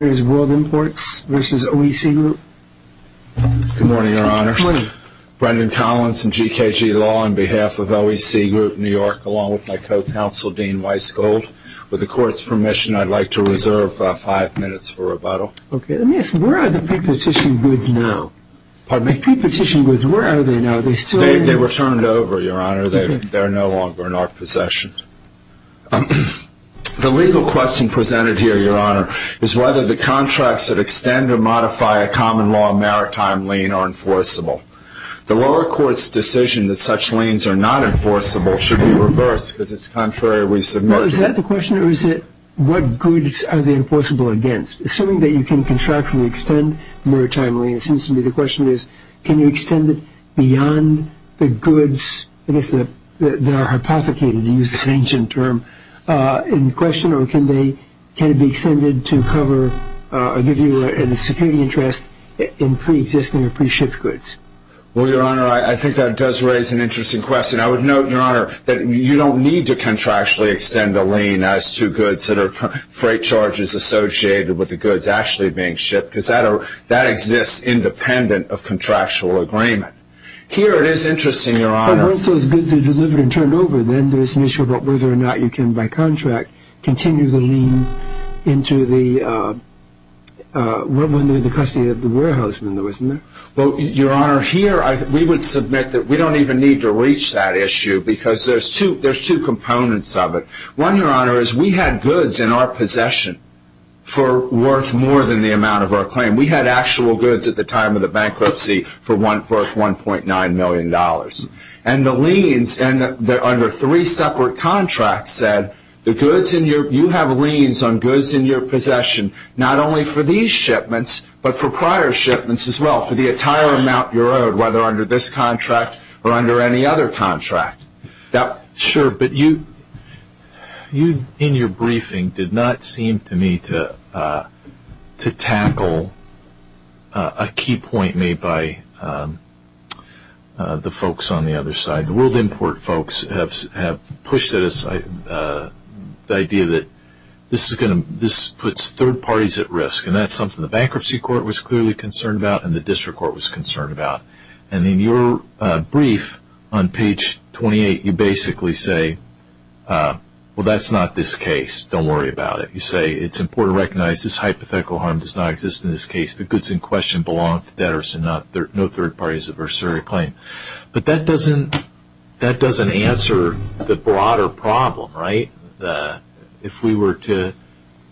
Good morning your honors. Brendan Collins from GKG Law on behalf of OEC Group New York along with my co-counsel Dean Weissgold. With the courts permission I'd like to reserve 5 minutes for rebuttal. Let me ask, where are the pre-petition goods now? Pardon me? The pre-petition goods, where are they now? They were turned over your honor. They are no longer in our possession. The legal question presented here your honor is whether the contracts that extend or modify a common law maritime lien are enforceable. The lower courts decision that such liens are not enforceable should be reversed because it is contrary to what we submitted. Is that the question or is it what goods are they enforceable against? Assuming that you can contractually extend maritime lien it seems to me the question is can you extend it beyond the goods that are hypothecated to use an ancient term in question or can it be extended to cover the security interest in pre-existing or pre-shipped goods. Well your honor I think that does raise an interesting question. I would note your honor that you don't need to contractually extend a lien as to goods that are freight charges associated with the goods actually being shipped because that exists independent of contractual agreement. Here it is interesting your honor. But once those goods are delivered and turned over then there is an issue about whether or not you can by contract continue the lien into the custody of the warehouse. Well your honor here we would submit that we don't even need to reach that issue because there's two components of it. One your honor is we had goods in our possession for worth more than the amount of our claim. We had actual goods at the time of the bankruptcy for worth $1.9 million. And the liens under three separate contracts said you have liens on goods in your possession not only for these shipments but for prior shipments as well for the entire amount you're owed whether under this contract or under any other contract. Sure but you in your briefing did not seem to me to tackle a key point made by the folks on the other side. The world import folks have pushed it aside the idea that this puts third parties at risk and that's something the bankruptcy court was clearly concerned about and the district court was concerned about. And in your brief on page 28 you basically say well that's not this case. Don't worry about it. You say it's important to recognize this hypothetical harm does not exist in this case. The goods in question belong to debtors and no third parties are sure to claim. But that doesn't answer the broader problem right. If we were to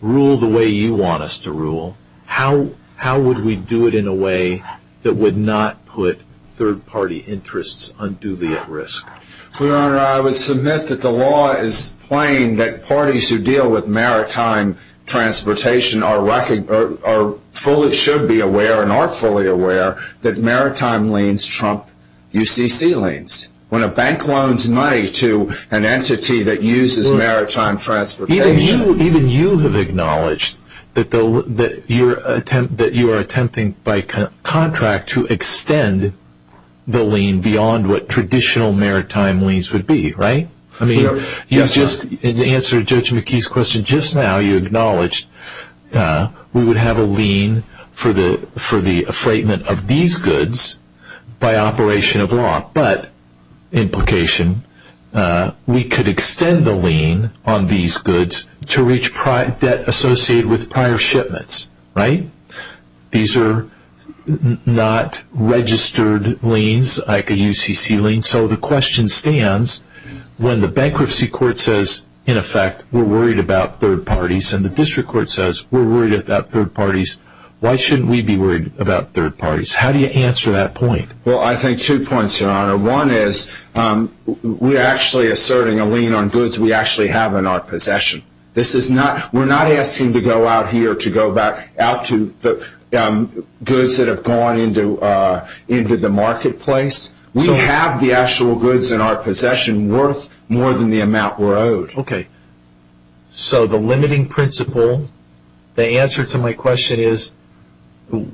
rule the way you want us to rule how would we do it in a way that would not put third party interests unduly at risk. Your Honor I would submit that the law is plain that parties who deal with maritime transportation are fully should be aware and are fully aware that maritime liens trump UCC liens. When a bank loans money to an entity that uses maritime transportation. Even you have acknowledged that you are attempting by contract to extend the lien beyond what traditional maritime liens would be right. I mean you just answered Judge McKee's question just now. You acknowledged we would have a lien for the afflatement of these goods by operation of law. But implication we could extend the lien on these goods to reach debt associated with prior shipments right. These are not registered liens like a UCC lien. So the question stands when the bankruptcy court says in effect we are worried about third parties and the district court says we are worried about third parties. Why shouldn't we be worried about third parties? How do you answer that point? Well I think two points Your Honor. One is we are actually asserting a lien on goods we actually have in our possession. We are not asking to go out here to go back out to goods that have gone into the marketplace. We have the actual goods in our possession worth more than the amount we are owed. So the limiting principle, the answer to my question is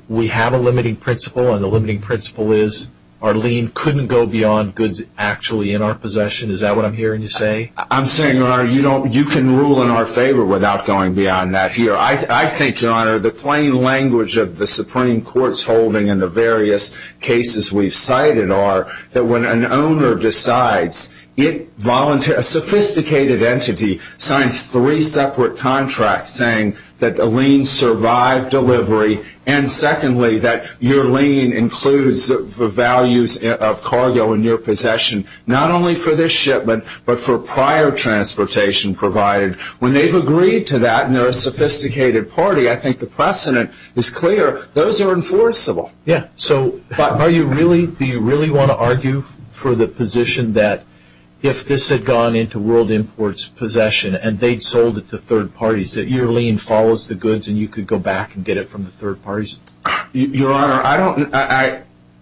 we have a limiting principle and the limiting principle is our lien couldn't go beyond goods actually in our possession. Is that what I'm hearing you say? I'm saying Your Honor you can rule in our favor without going beyond that here. I think Your Honor the plain language of the Supreme Court's holding and the various cases we have cited are that when an owner decides a sophisticated entity signs three separate contracts saying that the lien survived delivery and secondly that your lien includes the values of cargo in your possession not only for this shipment but for prior transportation provided. When they have agreed to that and they are a sophisticated party I think the precedent is clear. Those are enforceable. Do you really want to argue for the position that if this had gone into World Imports possession and they sold it to third parties that your lien follows the goods and you could go back and get it from the third parties? Your Honor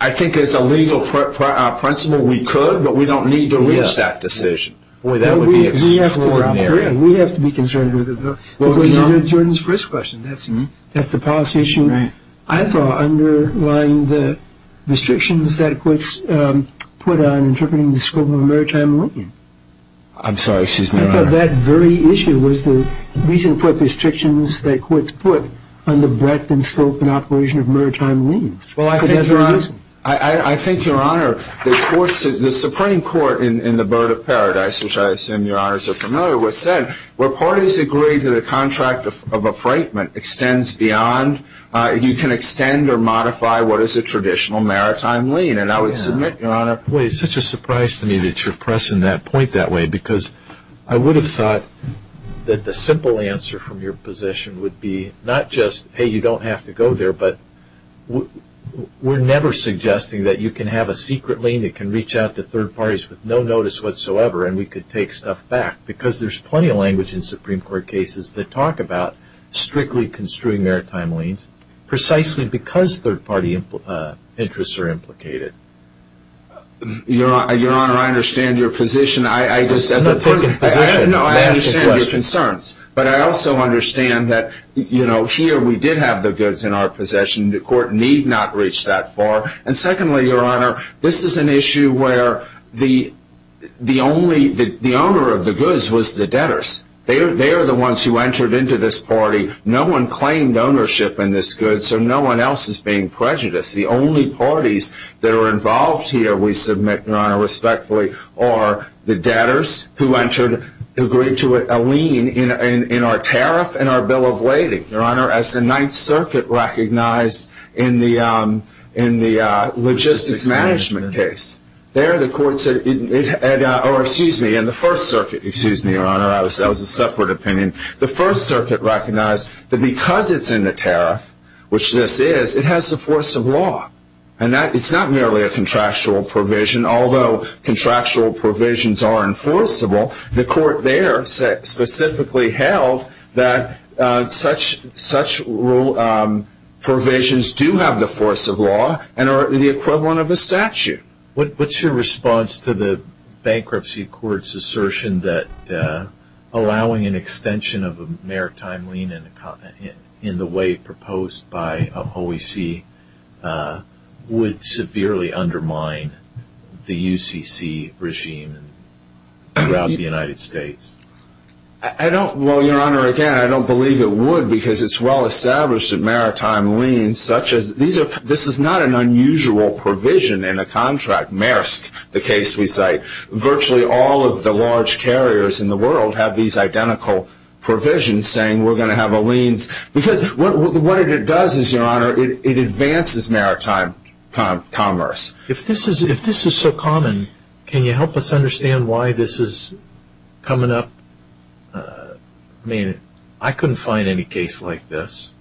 I think as a legal principle we could but we don't need to risk that decision. Boy that would be extraordinary. We have to be concerned with it though. That's the policy issue. I thought underlying the restrictions that courts put on interpreting the scope of a maritime lien. I'm sorry, excuse me, Your Honor. I thought that very issue was the reason for the restrictions that courts put on the breadth and scope and operation of maritime liens. I think Your Honor the Supreme Court in the Bird of Paradise, which I assume Your Honors are familiar with, has said where parties agree to the contract of a freightment extends beyond, you can extend or modify what is a traditional maritime lien. And I would submit, Your Honor. Boy it's such a surprise to me that you're pressing that point that way because I would have thought that the simple answer from your position would be not just, hey you don't have to go there but we're never suggesting that you can have a secret lien that can reach out to third parties with no notice whatsoever and we could take stuff back because there's plenty of language in Supreme Court cases that talk about strictly construing maritime liens precisely because third party interests are implicated. Your Honor, I understand your position. I'm not taking position. No, I understand your concerns. But I also understand that, you know, here we did have the goods in our possession. The court need not reach that far. And secondly, Your Honor, this is an issue where the owner of the goods was the debtors. They are the ones who entered into this party. No one claimed ownership in this good so no one else is being prejudiced. The only parties that are involved here, we submit, Your Honor, respectfully, are the debtors who entered, agreed to a lien in our tariff and our bill of lading. Your Honor, as the Ninth Circuit recognized in the logistics management case, there the court said, or excuse me, in the First Circuit, excuse me, Your Honor, that was a separate opinion. The First Circuit recognized that because it's in the tariff, which this is, it has the force of law. And it's not merely a contractual provision. Although contractual provisions are enforceable, the court there specifically held that such provisions do have the force of law and are the equivalent of a statute. What's your response to the Bankruptcy Court's assertion that allowing an extension of a maritime lien in the way proposed by OEC would severely undermine the UCC regime throughout the United States? I don't, well, Your Honor, again, I don't believe it would because it's well established that maritime liens such as, this is not an unusual provision in a contract, Maersk, the case we cite. Virtually all of the large carriers in the world have these identical provisions saying we're going to have a liens. Because what it does is, Your Honor, it advances maritime commerce. If this is so common, can you help us understand why this is coming up? I mean, I couldn't find any case like this.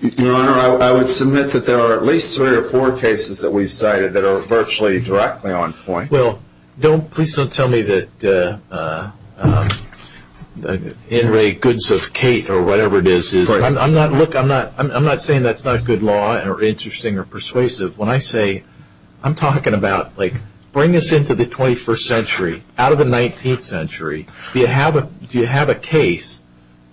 Your Honor, I would submit that there are at least three or four cases that we've cited that are virtually directly on point. Well, don't, please don't tell me that in re goods of Kate or whatever it is. I'm not, look, I'm not saying that's not good law or interesting or persuasive. When I say, I'm talking about, like, bring us into the 21st century, out of the 19th century. Do you have a case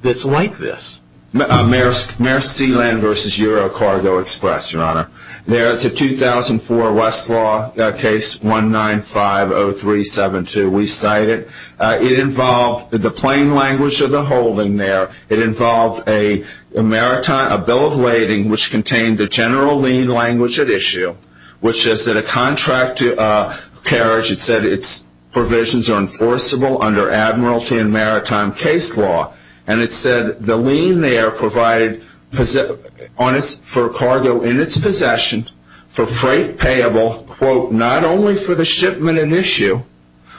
that's like this? Maersk Sealand versus Euro Cargo Express, Your Honor. There is a 2004 Westlaw case 195-0372. We cite it. It involved the plain language of the holding there. It involved a maritime, a bill of lading, which contained the general lien language at issue, which is that a contract to a carriage, it said, its provisions are enforceable under admiralty and maritime case law. And it said the lien there provided for cargo in its possession for freight payable, quote, not only for the shipment in issue,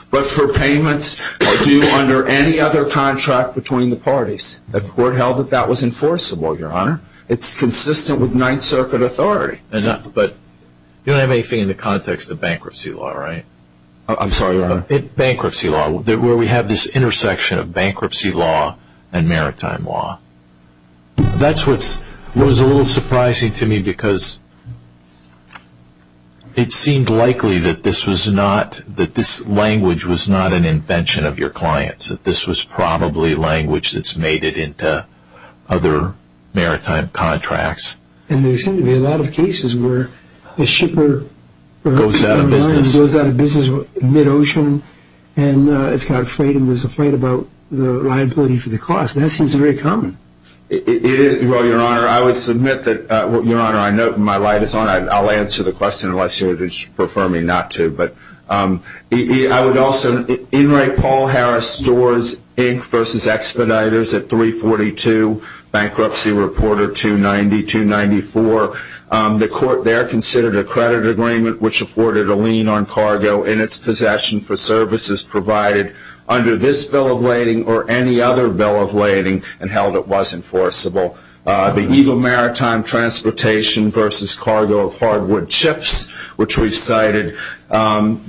but for payments due under any other contract between the parties. The court held that that was enforceable, Your Honor. It's consistent with Ninth Circuit authority. But you don't have anything in the context of bankruptcy law, right? I'm sorry, Your Honor. Bankruptcy law, where we have this intersection of bankruptcy law and maritime law. That's what was a little surprising to me because it seemed likely that this was not, that this language was not an invention of your client's, that this was probably language that's made it into other maritime contracts. And there seem to be a lot of cases where a shipper goes out of business mid-ocean and it's got freight and is afraid about the liability for the cost. That seems very common. It is. Well, Your Honor, I would submit that, Your Honor, I know my light is on. I'll answer the question unless you prefer me not to. But I would also, Enright Paul Harris Stores, Inc., versus Expeditors at 342 Bankruptcy Reporter 290-294. The court there considered a credit agreement which afforded a lien on cargo in its possession for services provided under this bill of lading or any other bill of lading and held it was enforceable. The Eagle Maritime Transportation versus Cargo of Hardwood Ships, which we cited,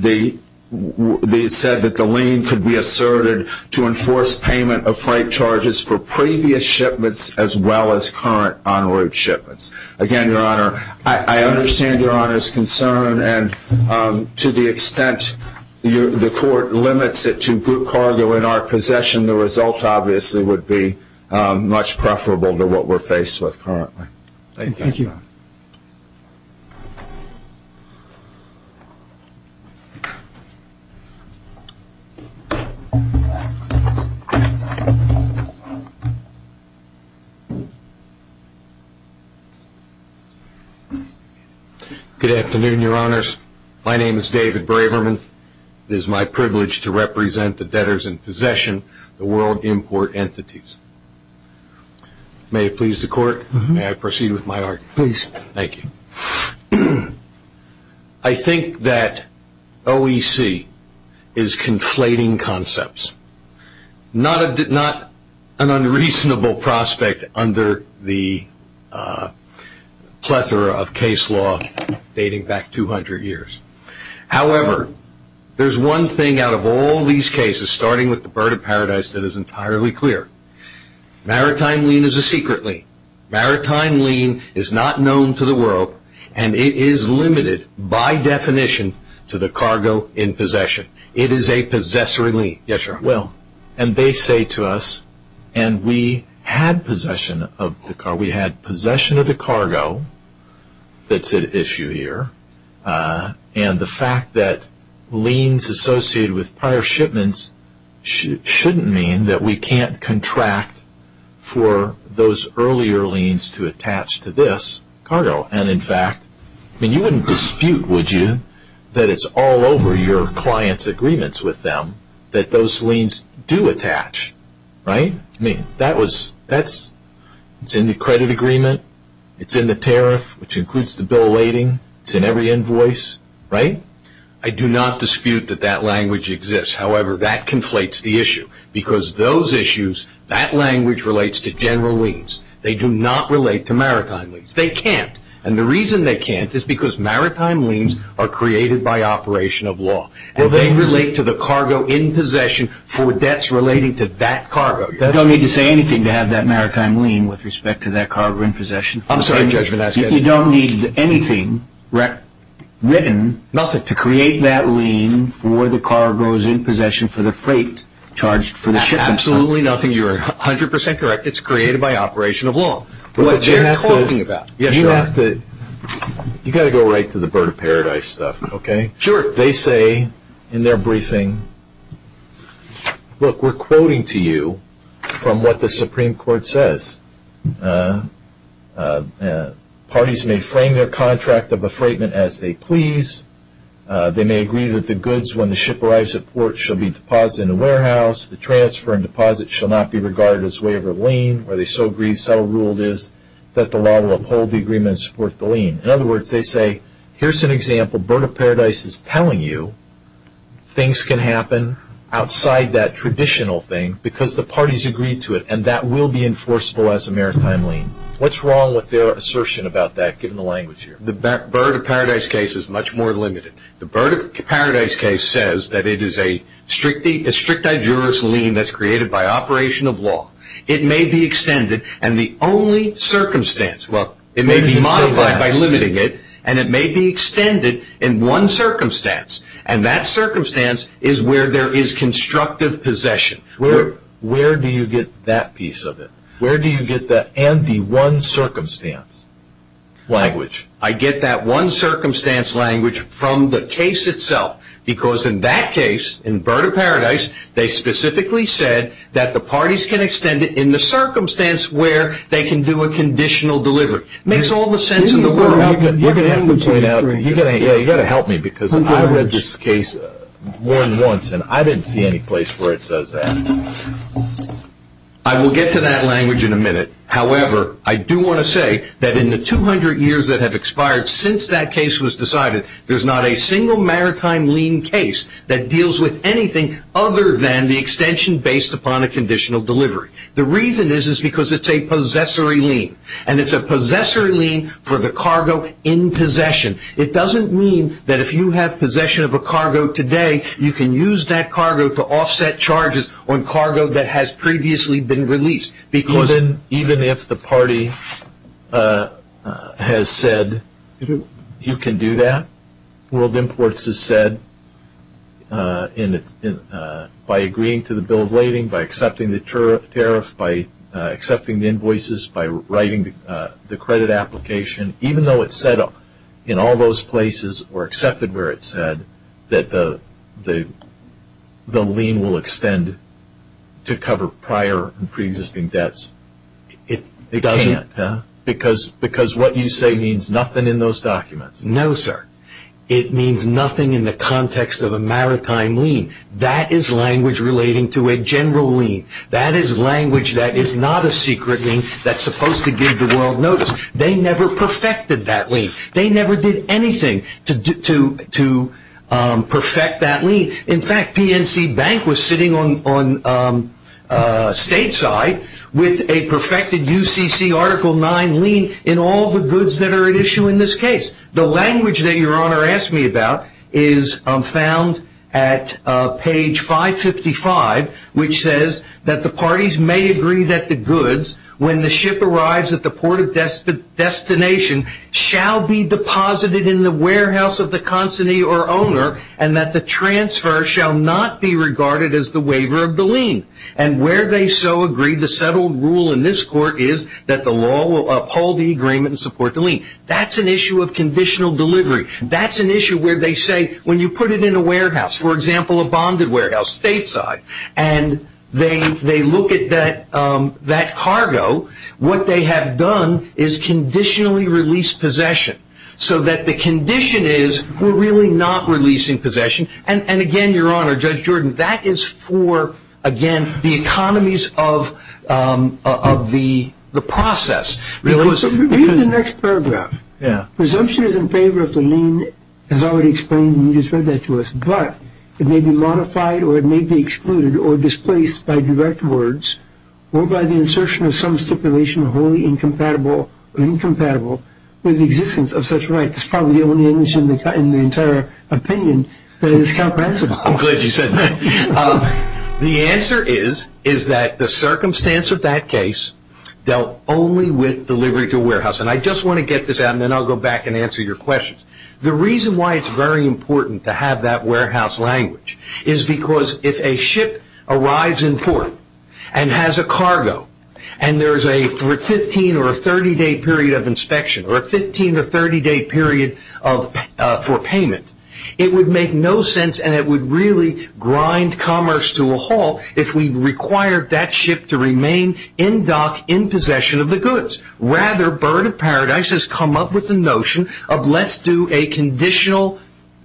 they said that the lien could be asserted to enforce payment of freight charges for previous shipments as well as current enroute shipments. Again, Your Honor, I understand Your Honor's concern, and to the extent the court limits it to group cargo in our possession, the result obviously would be much preferable to what we're faced with currently. Thank you. Thank you. Good afternoon, Your Honors. My name is David Braverman. It is my privilege to represent the debtors in possession, the world import entities. May it please the court, may I proceed with my argument? Please. Thank you. I think that OEC is conflating concepts, not an unreasonable prospect under the plethora of case law dating back 200 years. However, there's one thing out of all these cases, starting with the Bird of Paradise, that is entirely clear. Maritime lien is a secret lien. Maritime lien is not known to the world, and it is limited by definition to the cargo in possession. It is a possessory lien. Yes, Your Honor. Well, and they say to us, and we had possession of the cargo. We had possession of the cargo. That's at issue here. And the fact that liens associated with prior shipments shouldn't mean that we can't contract for those earlier liens to attach to this cargo. And, in fact, you wouldn't dispute, would you, that it's all over your client's agreements with them that those liens do attach, right? I mean, that's in the credit agreement. It's in the tariff, which includes the bill of lading. It's in every invoice, right? I do not dispute that that language exists. However, that conflates the issue because those issues, that language relates to general liens. They do not relate to maritime liens. They can't. And the reason they can't is because maritime liens are created by operation of law. And they relate to the cargo in possession for debts relating to that cargo. You don't need to say anything to have that maritime lien with respect to that cargo in possession. I'm sorry, Judge, but that's good. You don't need anything written to create that lien for the cargos in possession for the freight charged for the shipment. Absolutely nothing. You are 100 percent correct. It's created by operation of law. What you're talking about. You have to go right to the bird of paradise stuff, okay? Sure. They say in their briefing, look, we're quoting to you from what the Supreme Court says. Parties may frame their contract of a freightment as they please. They may agree that the goods, when the ship arrives at port, shall be deposited in a warehouse. The transfer and deposit shall not be regarded as waiver of lien. Where they so agree, so ruled is that the law will uphold the agreement and support the lien. In other words, they say, here's an example, bird of paradise is telling you things can happen outside that traditional thing because the parties agreed to it, and that will be enforceable as a maritime lien. What's wrong with their assertion about that, given the language here? The bird of paradise case is much more limited. The bird of paradise case says that it is a strict digeris lien that's created by operation of law. It may be extended, and the only circumstance. Well, it may be modified by limiting it, and it may be extended in one circumstance, and that circumstance is where there is constructive possession. Where do you get that piece of it? Where do you get that and the one circumstance language? I get that one circumstance language from the case itself, because in that case, in bird of paradise, they specifically said that the parties can extend it in the circumstance where they can do a conditional delivery. It makes all the sense in the world. You're going to have to help me, because I read this case more than once, and I didn't see any place where it says that. I will get to that language in a minute. However, I do want to say that in the 200 years that have expired since that case was decided, there's not a single maritime lien case that deals with anything other than the extension based upon a conditional delivery. The reason is because it's a possessory lien, and it's a possessory lien for the cargo in possession. It doesn't mean that if you have possession of a cargo today, you can use that cargo to offset charges on cargo that has previously been released. Even if the party has said you can do that, world imports has said by agreeing to the bill of lading, by accepting the tariff, by accepting the invoices, by writing the credit application, even though it's said in all those places or accepted where it's said that the lien will extend to cover prior and preexisting debts, it can't, because what you say means nothing in those documents. No, sir. It means nothing in the context of a maritime lien. That is language relating to a general lien. That is language that is not a secret lien that's supposed to give the world notice. They never perfected that lien. They never did anything to perfect that lien. In fact, PNC Bank was sitting on stateside with a perfected UCC Article 9 lien in all the goods that are at issue in this case. The language that Your Honor asked me about is found at page 555, which says that the parties may agree that the goods, when the ship arrives at the port of destination, shall be deposited in the warehouse of the consignee or owner and that the transfer shall not be regarded as the waiver of the lien. And where they so agree, the settled rule in this court is that the law will uphold the agreement and support the lien. That's an issue of conditional delivery. That's an issue where they say, when you put it in a warehouse, for example, a bonded warehouse, stateside, and they look at that cargo, what they have done is conditionally release possession, so that the condition is we're really not releasing possession. And again, Your Honor, Judge Jordan, that is for, again, the economies of the process. Read the next paragraph. Presumption is in favor of the lien, as already explained, and you just read that to us, but it may be modified or it may be excluded or displaced by direct words or by the insertion of some stipulation wholly incompatible or incompatible with the existence of such rights. That's probably the only English in the entire opinion that is comprehensible. I'm glad you said that. The answer is, is that the circumstance of that case dealt only with delivery to a warehouse. And I just want to get this out, and then I'll go back and answer your questions. The reason why it's very important to have that warehouse language is because if a ship arrives in port and has a cargo and there is a 15 or a 30-day period of inspection or a 15 or 30-day period for payment, it would make no sense and it would really grind commerce to a halt if we required that ship to remain in dock in possession of the goods. Rather, Bird of Paradise has come up with the notion of let's do a conditional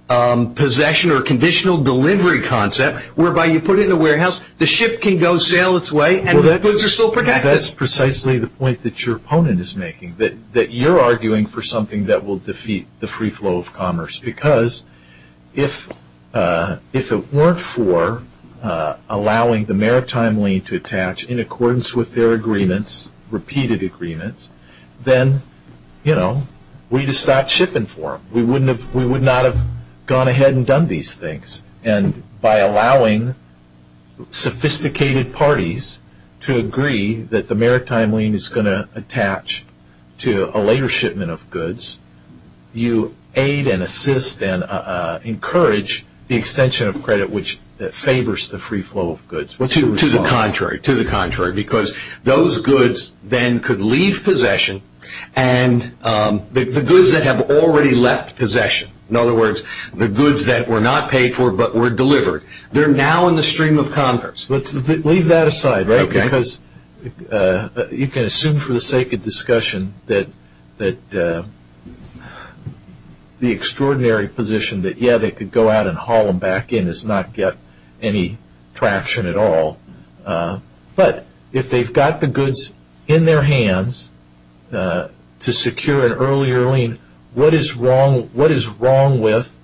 possession or conditional delivery concept whereby you put in the warehouse, the ship can go sail its way, and the goods are still protected. That's precisely the point that your opponent is making, that you're arguing for something that will defeat the free flow of commerce, because if it weren't for allowing the maritime lien to attach in accordance with their agreements, repeated agreements, then we'd have stopped shipping for them. We would not have gone ahead and done these things. And by allowing sophisticated parties to agree that the maritime lien is going to attach to a later shipment of goods, you aid and assist and encourage the extension of credit which favors the free flow of goods. To the contrary, to the contrary, because those goods then could leave possession and the goods that have already left possession, in other words, the goods that were not paid for but were delivered, they're now in the stream of commerce. But leave that aside, right, because you can assume for the sake of discussion that the extraordinary position that, yeah, they could go out and haul them back in does not get any traction at all. But if they've got the goods in their hands to secure an earlier lien, what is wrong with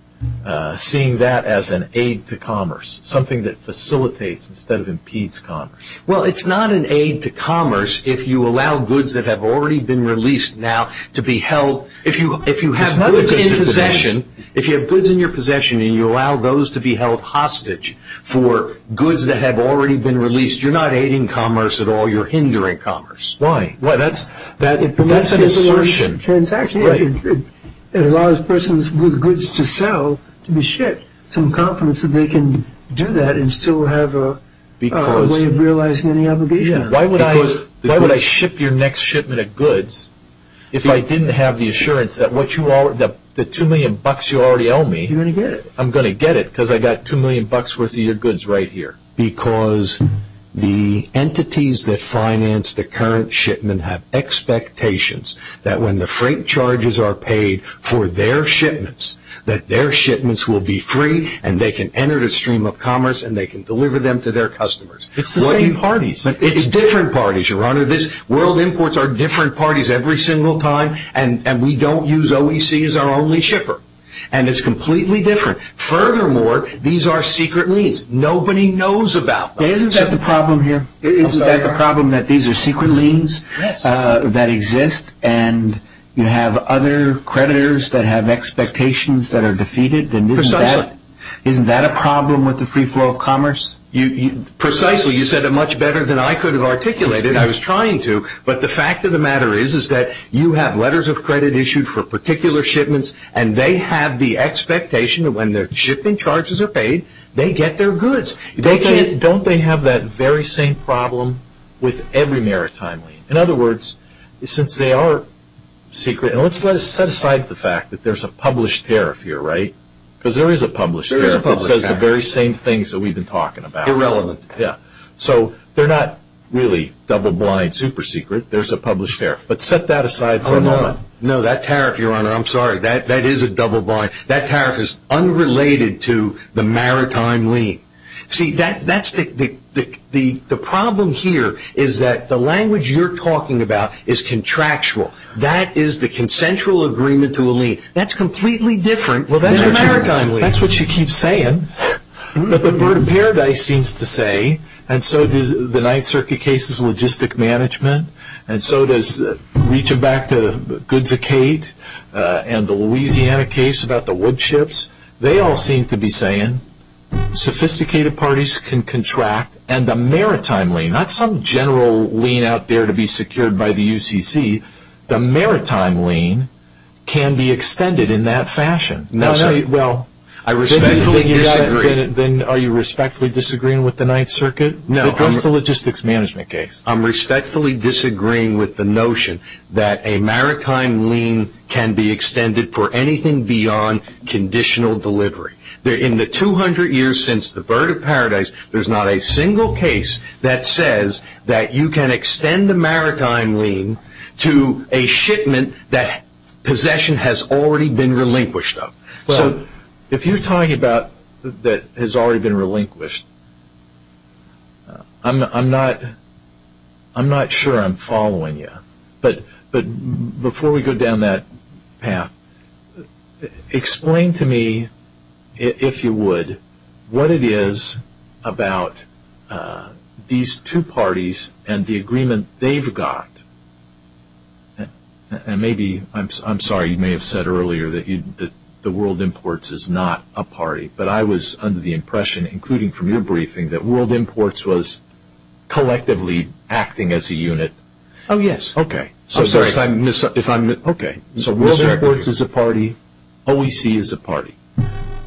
seeing that as an aid to commerce, something that facilitates instead of impedes commerce? Well, it's not an aid to commerce if you allow goods that have already been released now to be held. If you have goods in possession, if you have goods in your possession and you allow those to be held hostage for goods that have already been released, you're not aiding commerce at all, you're hindering commerce. Why? Well, that's an assertion. It allows persons with goods to sell to be shipped. I have some confidence that they can do that and still have a way of realizing any obligation. Why would I ship your next shipment of goods if I didn't have the assurance that the $2 million you already owe me, I'm going to get it because I've got $2 million worth of your goods right here. Because the entities that finance the current shipment have expectations that when the freight charges are paid for their shipments, that their shipments will be free and they can enter the stream of commerce and they can deliver them to their customers. It's the same parties. It's different parties, Your Honor. World Imports are different parties every single time and we don't use OEC as our only shipper. And it's completely different. Furthermore, these are secret liens. Nobody knows about them. Okay, isn't that the problem here? Isn't that the problem that these are secret liens that exist and you have other creditors that have expectations that are defeated? Precisely. Isn't that a problem with the free flow of commerce? Precisely. You said it much better than I could have articulated it. I was trying to. But the fact of the matter is that you have letters of credit issued for particular shipments and they have the expectation that when their shipping charges are paid, they get their goods. Don't they have that very same problem with every maritime lien? In other words, since they are secret, and let's set aside the fact that there's a published tariff here, right? Because there is a published tariff that says the very same things that we've been talking about. Irrelevant. Yeah. So they're not really double blind, super secret. There's a published tariff. But set that aside for a moment. No, that tariff, Your Honor, I'm sorry, that is a double blind. That tariff is unrelated to the maritime lien. See, the problem here is that the language you're talking about is contractual. That is the consensual agreement to a lien. That's completely different than a maritime lien. Well, that's what she keeps saying. But the bird of paradise seems to say, and so does the Ninth Circuit case's logistic management, and so does reaching back to Goode's Acade and the Louisiana case about the wood chips. They all seem to be saying sophisticated parties can contract, and the maritime lien, not some general lien out there to be secured by the UCC, the maritime lien can be extended in that fashion. No, no, well, I respectfully disagree. Then are you respectfully disagreeing with the Ninth Circuit? No. But that's the logistics management case. I'm respectfully disagreeing with the notion that a maritime lien can be extended for anything beyond conditional delivery. In the 200 years since the bird of paradise, there's not a single case that says that you can extend a maritime lien to a shipment that possession has already been relinquished of. So if you're talking about that has already been relinquished, I'm not sure I'm following you. But before we go down that path, explain to me, if you would, what it is about these two parties and the agreement they've got. And maybe, I'm sorry, you may have said earlier that the World Imports is not a party, but I was under the impression, including from your briefing, that World Imports was collectively acting as a unit. Oh, yes. Okay. I'm sorry. Okay.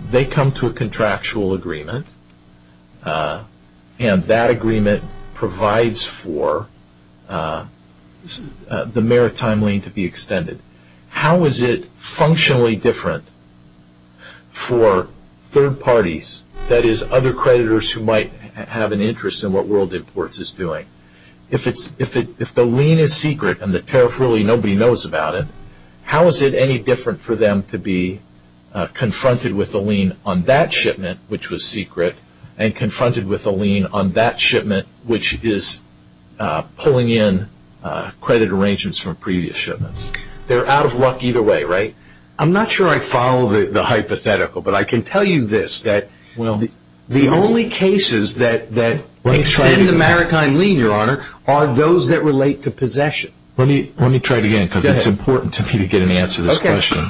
They come to a contractual agreement, and that agreement provides for the maritime lien to be extended. How is it functionally different for third parties, that is, other creditors who might have an interest in what World Imports is doing? If the lien is secret and the tariff, really, nobody knows about it, how is it any different for them to be confronted with a lien on that shipment, which was secret, and confronted with a lien on that shipment, which is pulling in credit arrangements from previous shipments? They're out of luck either way, right? I'm not sure I follow the hypothetical, but I can tell you this, that the only cases that extend the maritime lien, Your Honor, are those that relate to possession. Let me try it again, because it's important to me to get an answer to this question.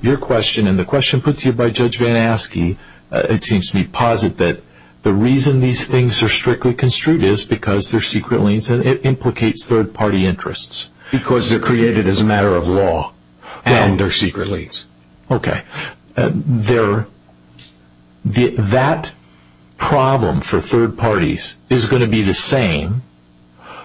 Your question and the question put to you by Judge Van Aske, it seems to me, posit that the reason these things are strictly construed is because they're secret liens, and it implicates third party interests. Because they're created as a matter of law, and they're secret liens. Okay. That problem for third parties is going to be the same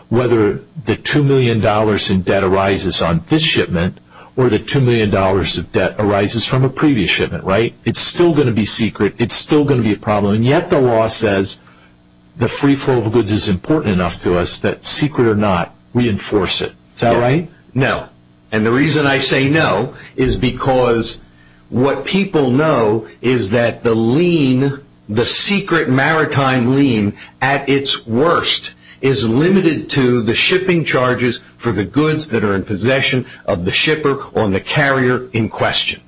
whether the $2 million in debt arises on this shipment, or the $2 million of debt arises from a previous shipment, right? It's still going to be secret, it's still going to be a problem, and yet the law says the free flow of goods is important enough to us that, secret or not, we enforce it. Is that right? No. And the reason I say no is because what people know is that the lien, the secret maritime lien, at its worst, is limited to the shipping charges for the goods that are in possession of the shipper or the carrier in question.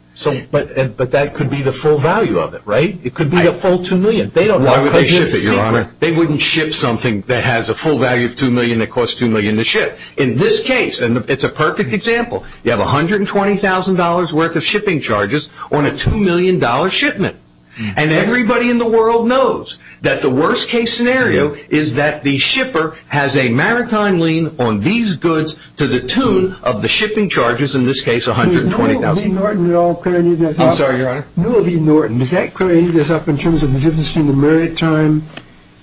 But that could be the full value of it, right? It could be a full $2 million. Why would they ship it, Your Honor? They wouldn't ship something that has a full value of $2 million that costs $2 million to ship. In this case, and it's a perfect example, you have $120,000 worth of shipping charges on a $2 million shipment. And everybody in the world knows that the worst-case scenario is that the shipper has a maritime lien on these goods to the tune of the shipping charges, in this case, $120,000. I'm sorry, Your Honor. Louis Norton. Is that clear any of this up in terms of the difference between the maritime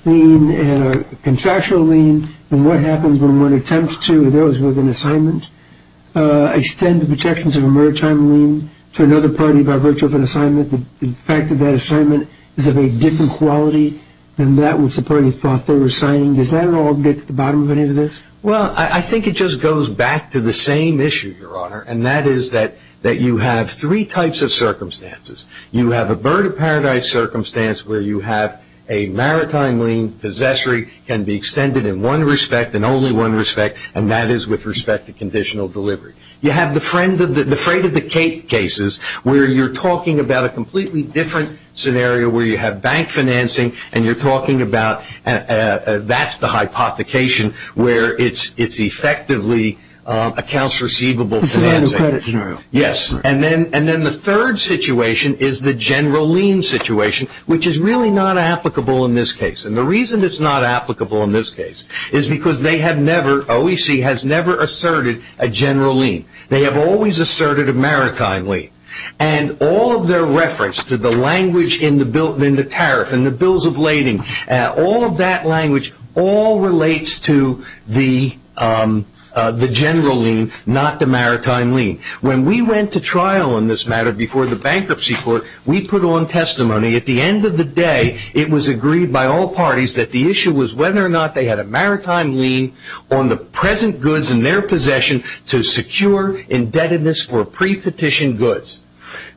lien and a contractual lien and what happens when one attempts to, those with an assignment, extend the protections of a maritime lien to another party by virtue of an assignment, the fact that that assignment is of a different quality than that which the party thought they were signing? Does that at all get to the bottom of any of this? Well, I think it just goes back to the same issue, Your Honor, and that is that you have three types of circumstances. You have a bird-of-paradise circumstance where you have a maritime lien possessory can be extended in one respect and only one respect, and that is with respect to conditional delivery. You have the freight-of-the-cake cases where you're talking about a completely different scenario where you have bank financing and you're talking about that's the hypothecation where it's effectively accounts receivable financing. It's a new credit scenario. Yes. And then the third situation is the general lien situation, which is really not applicable in this case. And the reason it's not applicable in this case is because they have never, OEC, has never asserted a general lien. They have always asserted a maritime lien. And all of their reference to the language in the tariff and the bills of lading, all of that language, all relates to the general lien, not the maritime lien. When we went to trial on this matter before the bankruptcy court, we put on testimony. At the end of the day, it was agreed by all parties that the issue was whether or not they had a maritime lien on the present goods in their possession to secure indebtedness for pre-petition goods.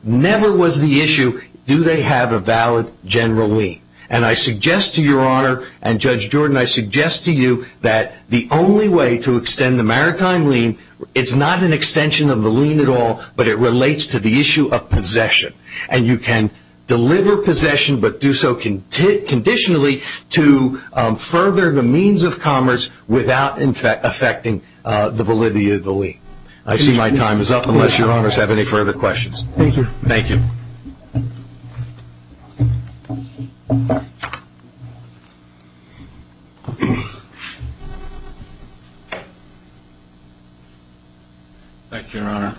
Never was the issue do they have a valid general lien. And I suggest to Your Honor and Judge Jordan, I suggest to you that the only way to extend the maritime lien, it's not an extension of the lien at all, but it relates to the issue of possession. And you can deliver possession, but do so conditionally to further the means of commerce without affecting the validity of the lien. I see my time is up, unless Your Honors have any further questions. Thank you. Thank you. Thank you, Your Honor.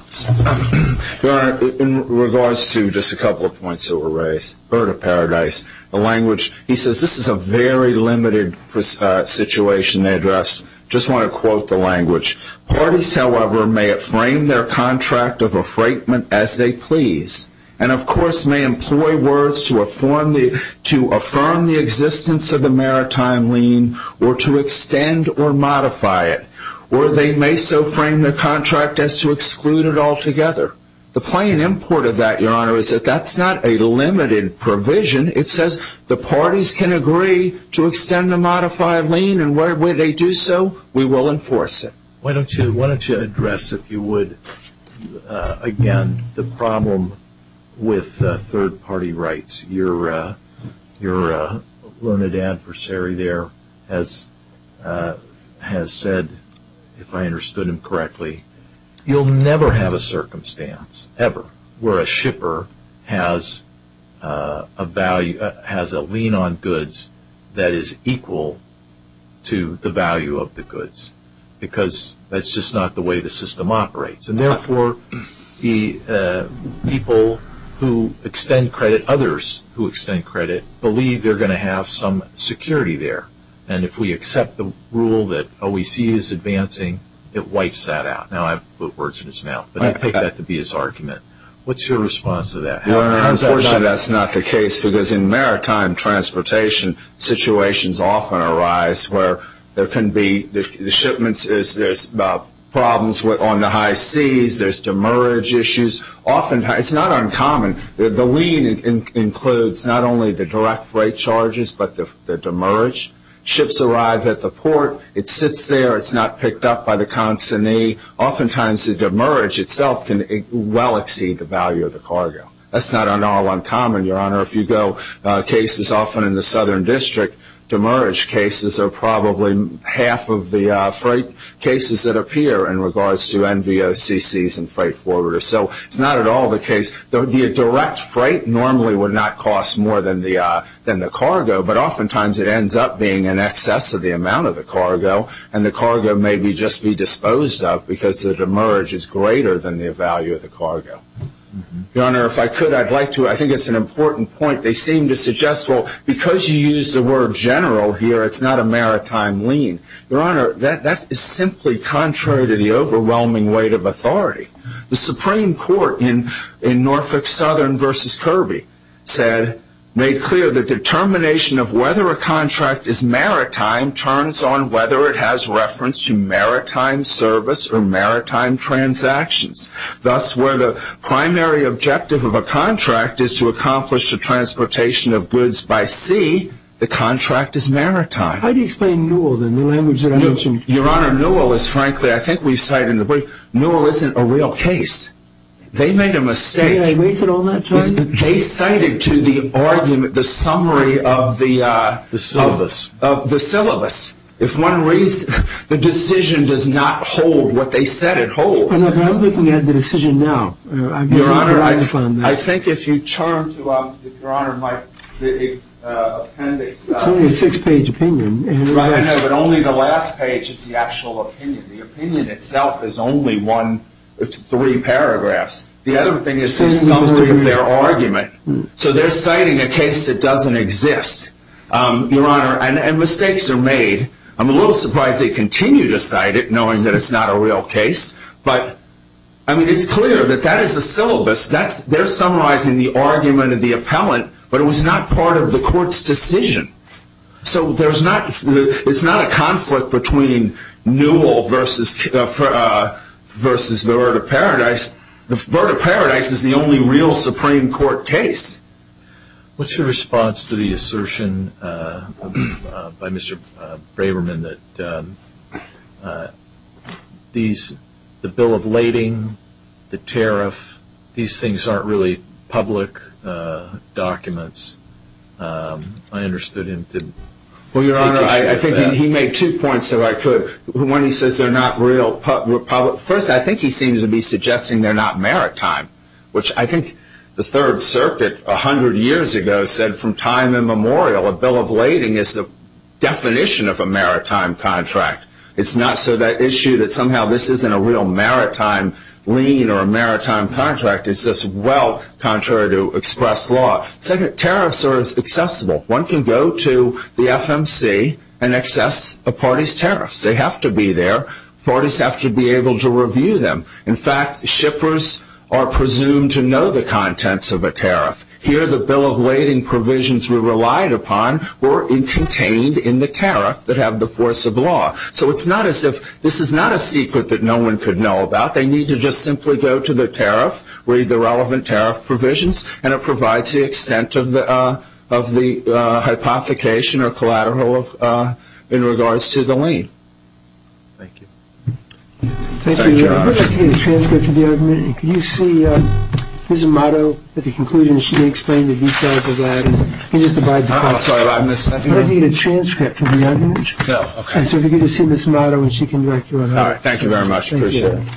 Your Honor, in regards to just a couple of points that were raised, Bird of Paradise, the language, he says, this is a very limited situation they addressed. Just want to quote the language. Parties, however, may frame their contract of refraintment as they please. And, of course, may employ words to affirm the existence of the maritime lien or to extend or modify it. Or they may so frame their contract as to exclude it altogether. The plain import of that, Your Honor, is that that's not a limited provision. It says the parties can agree to extend or modify a lien, and when they do so, we will enforce it. Why don't you address, if you would, again, the problem with third-party rights. Your learned adversary there has said, if I understood him correctly, you'll never have a circumstance ever where a shipper has a lien on goods that is equal to the value of the goods. Because that's just not the way the system operates. And, therefore, the people who extend credit, others who extend credit, believe they're going to have some security there. And if we accept the rule that OECD is advancing, it wipes that out. Now, I put words in his mouth, but I take that to be his argument. What's your response to that? Your Honor, unfortunately, that's not the case, because in maritime transportation, situations often arise where there can be shipments, there's problems on the high seas, there's demerge issues. It's not uncommon. The lien includes not only the direct freight charges, but the demerge. Ships arrive at the port. It sits there. It's not picked up by the consignee. Oftentimes, the demerge itself can well exceed the value of the cargo. That's not at all uncommon, Your Honor. If you go, cases often in the Southern District, demerge cases are probably half of the freight cases that appear in regards to NVOCCs and freight forwarders. So it's not at all the case. The direct freight normally would not cost more than the cargo, but oftentimes it ends up being in excess of the amount of the cargo, and the cargo may just be disposed of because the demerge is greater than the value of the cargo. Your Honor, if I could, I'd like to, I think it's an important point. They seem to suggest, well, because you use the word general here, it's not a maritime lien. Your Honor, that is simply contrary to the overwhelming weight of authority. The Supreme Court in Norfolk Southern v. Kirby said, made clear the determination of whether a contract is maritime turns on whether it has reference to maritime service or maritime transactions. Thus, where the primary objective of a contract is to accomplish the transportation of goods by sea, the contract is maritime. How do you explain NUEL in the language that I mentioned? Your Honor, NUEL is frankly, I think we've cited it, but NUEL isn't a real case. They made a mistake. Did they raise it all that time? They cited to the argument the summary of the syllabus. If one raises, the decision does not hold what they said it holds. I'm looking at the decision now. Your Honor, I think if you turn to the appendix. It's only a six-page opinion. I know, but only the last page is the actual opinion. The opinion itself is only three paragraphs. The other thing is the summary of their argument. So they're citing a case that doesn't exist, Your Honor, and mistakes are made. I'm a little surprised they continue to cite it, knowing that it's not a real case. It's clear that that is the syllabus. They're summarizing the argument of the appellant, but it was not part of the court's decision. So it's not a conflict between NUEL versus the Bird of Paradise. The Bird of Paradise is the only real Supreme Court case. What's your response to the assertion by Mr. Braverman that the bill of lading, the tariff, these things aren't really public documents? I understood him. Well, Your Honor, I think he made two points, if I could. One, he says they're not real public. First, I think he seems to be suggesting they're not maritime, which I think the Third Circuit a hundred years ago said from time immemorial a bill of lading is the definition of a maritime contract. It's not so that issue that somehow this isn't a real maritime lien or a maritime contract. It's just well contrary to express law. Second, tariffs are accessible. One can go to the FMC and access a party's tariffs. They have to be there. Parties have to be able to review them. In fact, shippers are presumed to know the contents of a tariff. Here the bill of lading provisions we relied upon were contained in the tariff that have the force of law. So it's not as if this is not a secret that no one could know about. They need to just simply go to the tariff, read the relevant tariff provisions, and it provides the extent of the hypothecation or collateral in regards to the lien. Thank you. Thank you, Your Honor. I'd like to get a transcript of the argument. Could you see Ms. Motto at the conclusion? She explained the details of that. Can you just abide by that? I'm sorry. I missed that. I'd like to get a transcript of the argument. Okay. So if you could just see Ms. Motto and she can direct you on that. All right. Thank you very much. Appreciate it.